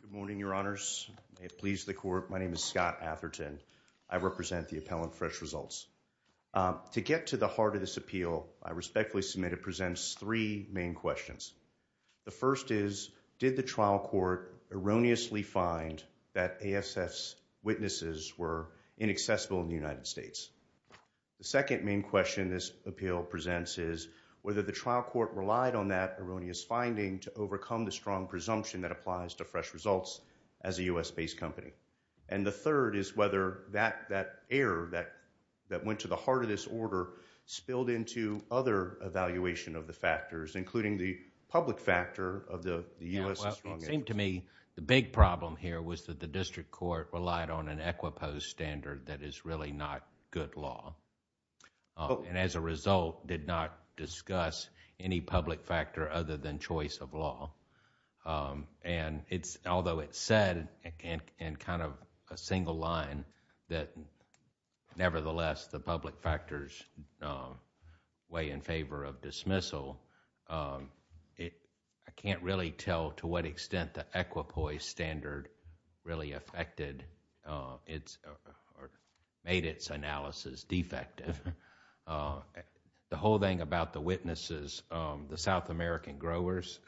Good morning, Your Honors, may it please the Court, my name is Scott Atherton, I represent the appellant Fresh Results. To get to the heart of this appeal, I respectfully submit it presents three main questions. The first is, did the trial court erroneously find that ASF's witnesses were inaccessible in the United States? The second main question this appeal presents is, whether the trial court relied on that erroneous finding to overcome the strong presumption that applies to Fresh Results as a U.S.-based company. And the third is whether that error that went to the heart of this order spilled into other evaluation of the factors, including the public factor of the U.S.'s... Well, it seemed to me the big problem here was that the district court relied on an equiposed standard that is really not good law, and as a result, did not discuss any public factor other than choice of law. And although it said in kind of a single line that nevertheless the public factors weigh in favor of dismissal, I can't really tell to what extent the equiposed standard really affected or made its analysis defective. The whole thing about the witnesses, the South American growers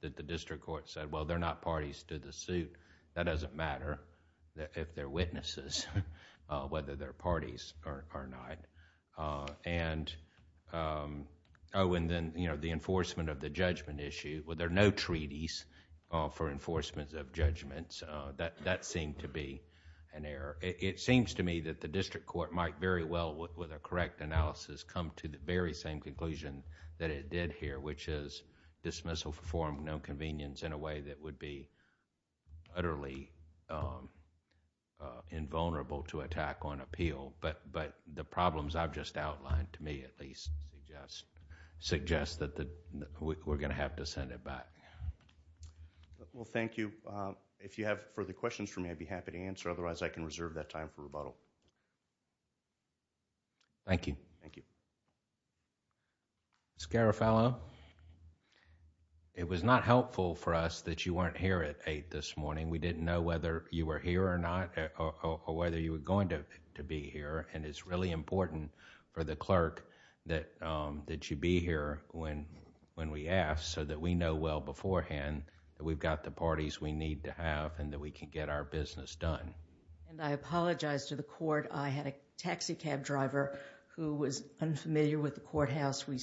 that the district court said, well, they're not parties to the suit, that doesn't matter if they're witnesses, whether they're parties or not. Oh, and then the enforcement of the judgment issue, well, there are no treaties for enforcement of judgments. That seemed to be an error. It seems to me that the district court might very well, with a correct analysis, come to the very same conclusion that it did here, which is dismissal for no convenience in a way that would be utterly invulnerable to attack on appeal. But the problems I've just outlined, to me at least, suggest that we're going to have to send it back. Well, thank you. If you have further questions for me, I'd be happy to answer, otherwise I can reserve that time for rebuttal. Thank you. Thank you. Mr. Garofalo, it was not helpful for us that you weren't here at 8 this morning. We didn't know whether you were here or not, or whether you were going to be here, and it's really important for the clerk that you be here when we ask, so that we know well beforehand that we've got the parties we need to have and that we can get our business done. I apologize to the court. I had a taxi cab driver who was unfamiliar with the courthouse. I am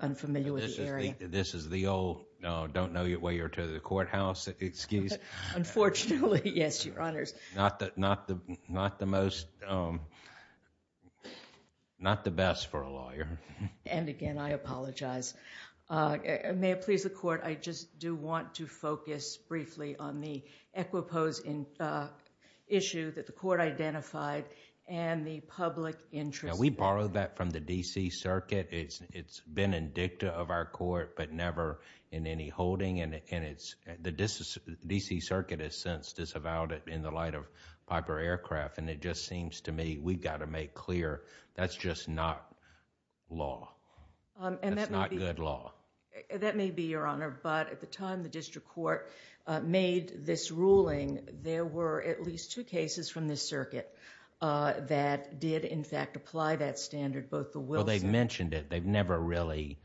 unfamiliar with the area. This is the old, don't know where you're to the courthouse excuse. Unfortunately, yes, Your Honors. Not the most, not the best for a lawyer. And again, I apologize. May it please the court, I just do want to focus briefly on the Equipose issue that the court identified and the public interest... We borrowed that from the D.C. Circuit. It's been in dicta of our court, but never in any holding, and it's... the D.C. Circuit has since disavowed it in the light of Piper Aircraft, and it just seems to me we've got to make clear that's just not law, that's not good law. That may be, Your Honor, but at the time the district court made this ruling, there were at least two cases from this circuit that did in fact apply that standard, both the Wilson... Well, they've mentioned it. They've never really...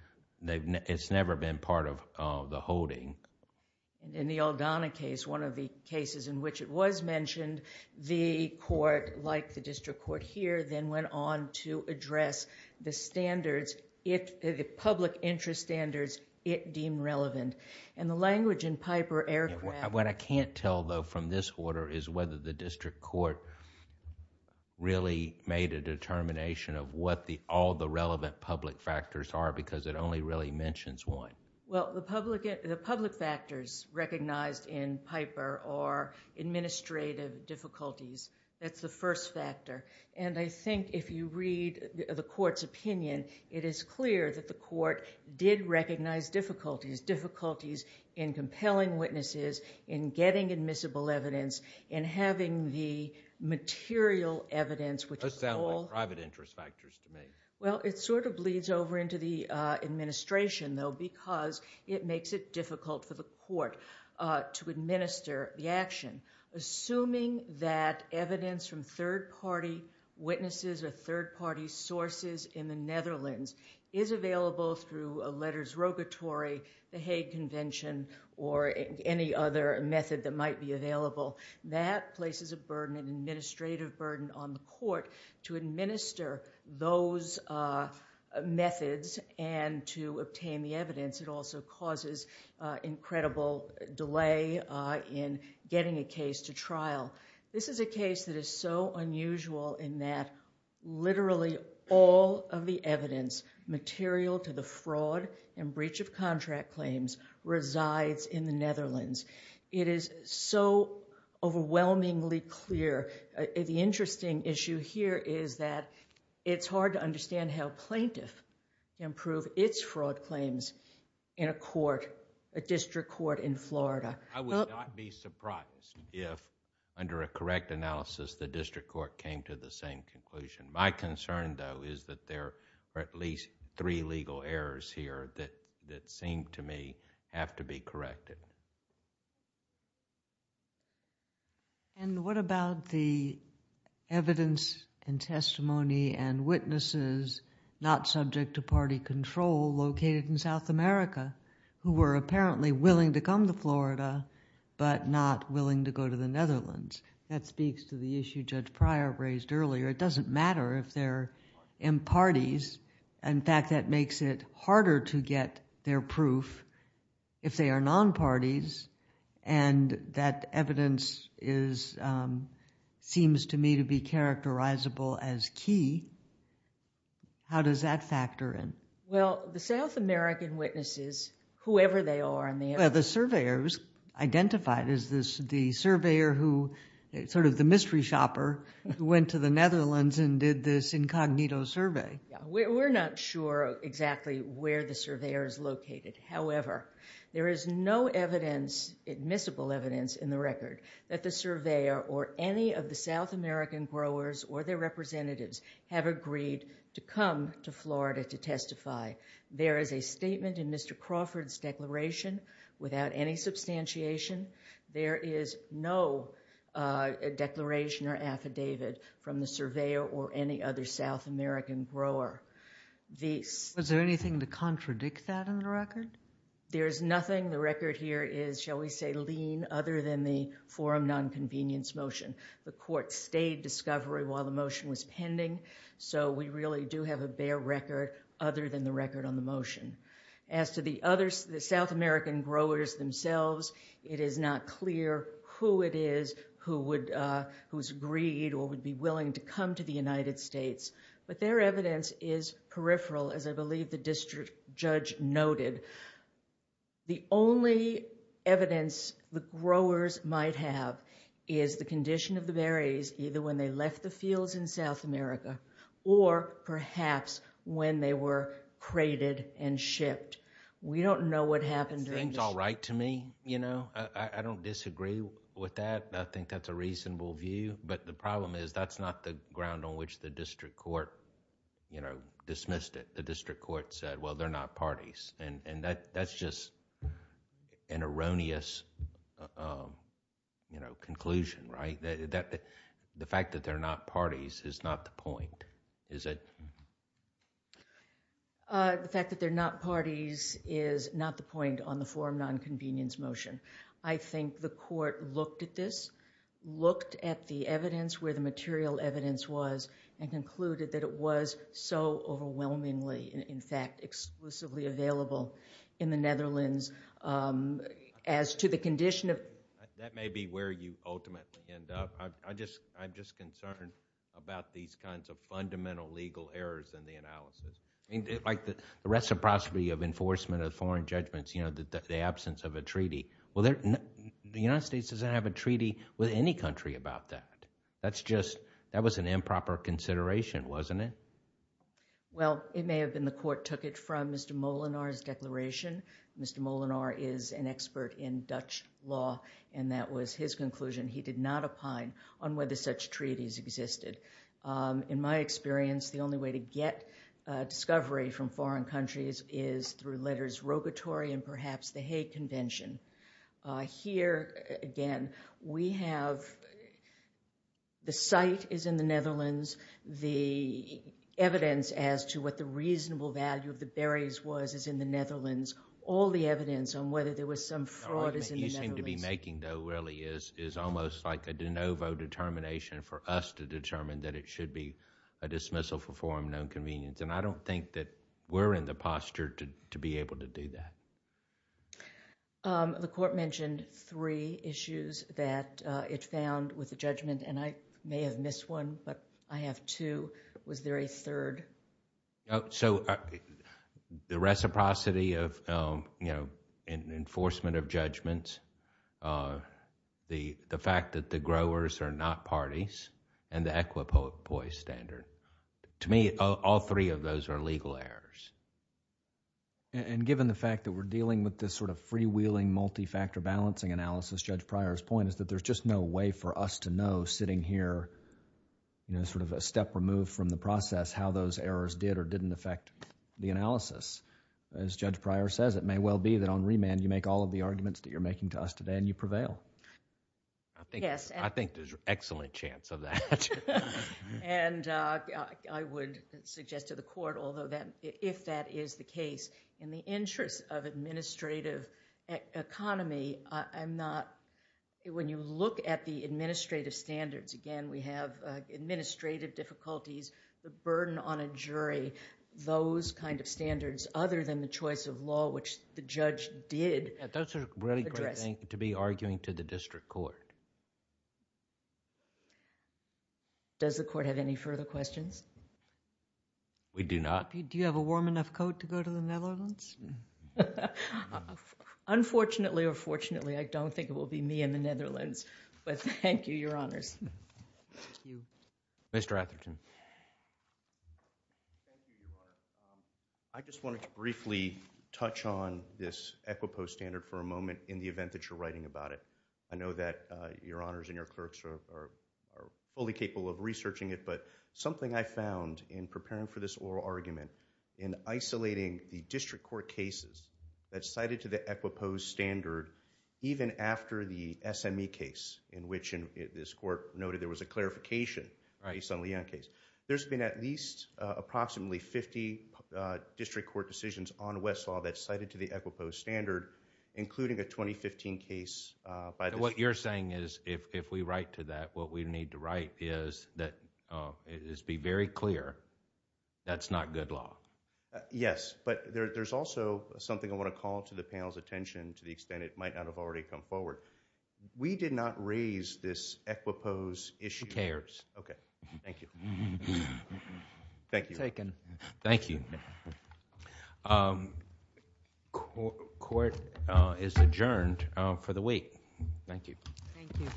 it's never been part of the holding. In the Aldana case, one of the cases in which it was mentioned, the court, like the district court here, then went on to address the standards, the public interest standards it deemed relevant. And the language in Piper Aircraft... What I can't tell though from this order is whether the district court really made a determination of what all the relevant public factors are, because it only really mentions one. Well, the public factors recognized in Piper are administrative difficulties. That's the first factor, and I think if you read the court's opinion, it is clear that the court did recognize difficulties. Difficulties in compelling witnesses, in getting admissible evidence, in having the material evidence which... Those sound like private interest factors to me. Well, it sort of bleeds over into the administration though, because it makes it difficult for the court to administer the action. Assuming that evidence from third-party witnesses or third-party sources in the Netherlands is available through a letters rogatory, the Hague Convention, or any other method that might be available, that places a burden, an administrative burden on the court to administer those methods and to obtain the evidence. It also causes incredible delay in getting a case to trial. This is a case that is so unusual in that literally all of the evidence material to the fraud and breach of contract claims resides in the Netherlands. It is so overwhelmingly clear. The interesting issue here is that it's hard to understand how a plaintiff can prove its fraud claims in a court, a district court in Florida. I would not be surprised if under a correct analysis, the district court came to the same conclusion. My concern though is that there are at least three legal errors here that seem to me have to be corrected. What about the evidence and testimony and witnesses not subject to party control located in South America who were apparently willing to come to Florida but not willing to go to the Netherlands? That speaks to the issue Judge Pryor raised earlier. It doesn't matter if they're in parties. In fact, that makes it harder to get their proof if they are non-parties. That evidence seems to me to be characterizable as key. How does that factor in? Well, the South American witnesses, whoever they are and they have the surveyors identified as the surveyor who sort of the mystery shopper went to the Netherlands and did this incognito survey. We're not sure exactly where the surveyor is located. However, there is no evidence, admissible evidence in the record that the surveyor or any of the South American growers or their representatives have agreed to come to Florida to testify. There is a statement in Mr. Crawford's declaration without any substantiation. There is no declaration or affidavit from the surveyor or any other South American grower. Is there anything to contradict that in the record? There's nothing. The record here is, shall we say, lean other than the forum non-convenience motion. The court stayed discovery while the motion was pending. So we really do have a bare record other than the record on the motion. As to the South American growers themselves, it is not clear who it is whose agreed or would be willing to come to the United States. But their evidence is peripheral, as I believe the district judge noted. The only evidence the growers might have is the condition of the berries, either when they left the fields in South America or perhaps when they were crated and shipped. We don't know what happened. It seems all right to me, you know. I don't disagree with that. I think that's a reasonable view. But the problem is that's not the ground on which the district court, you know, dismissed it. The district court said, well, they're not parties. That's just an erroneous, you know, conclusion, right? The fact that they're not parties is not the point, is it? The fact that they're not parties is not the point on the forum non-convenience motion. I think the court looked at this, looked at the evidence where the material evidence was and concluded that it was so overwhelmingly, in fact, exclusively available in the Netherlands as to the condition of... That may be where you ultimately end up. I'm just concerned about these kinds of fundamental legal errors in the analysis. Like the reciprocity of enforcement of foreign judgments, you know, the absence of a treaty. Well, the United States doesn't have a treaty with any country about that. That's just... That was an improper consideration, wasn't it? Well, it may have been the court took it from Mr. Molinar's declaration. Mr. Molinar is an expert in Dutch law and that was his conclusion. He did not opine on whether such treaties existed. In my experience, the only way to get discovery from foreign countries is through letters rogatory and perhaps the Hague Convention. Here, again, we have... The site is in the Netherlands. The evidence as to what the reasonable value of the berries was is in the Netherlands. All the evidence on whether there was some fraud is in the Netherlands. The argument you seem to be making, though, really is almost like a de novo determination for us to determine that it should be a dismissal for forum non-convenience. I don't think that we're in the posture to be able to do that. The court mentioned three issues that it found with the judgment and I may have missed one, but I have two. Was there a third? The reciprocity of enforcement of judgments, the fact that the growers are not parties and the equipoise standard. To me, all three of those are legal errors. Given the fact that we're dealing with this freewheeling, multi-factor balancing analysis, Judge Pryor's point is that there's just no way for us to know, sitting here, a step removed from the process, how those errors did or didn't affect the analysis. As Judge Pryor says, it may well be that on remand, you make all of the arguments that you're making to us today and you prevail. I think there's an excellent chance of that. I would suggest to the court, if that is the case, in the interest of administrative economy, when you look at the administrative standards, again, we have administrative difficulties, the burden on a jury, those kind of standards, other than the choice of law, which the judge did address. That's a really great thing to be arguing to the district court. Does the court have any further questions? We do not. Do you have a warm enough coat to go to the Netherlands? Unfortunately or fortunately, I don't think it will be me in the Netherlands, but thank you, Your Honors. Thank you. Mr. Atherton. Thank you, Your Honor. I just wanted to briefly touch on this EQUIPO standard for a moment in the event that you're writing about it. I know that Your Honors and your clerks are fully capable of researching it, but something I found in preparing for this oral argument, in isolating the district court cases that cited to the EQUIPO standard, even after the SME case, in which this court noted there was a clarification based on the Young case, there's been at least approximately 50 district court decisions on Westlaw that cited to the EQUIPO standard, including a 2015 case. What you're saying is, if we write to that, what we need to write is, be very clear, that's not good law. Yes, but there's also something I want to call to the panel's attention to the extent it might not have already come forward. We did not raise this EQUIPO's issue. Who cares? Okay. Thank you. Thank you. It's taken. Thank you. Court is adjourned for the week. Thank you. Thank you.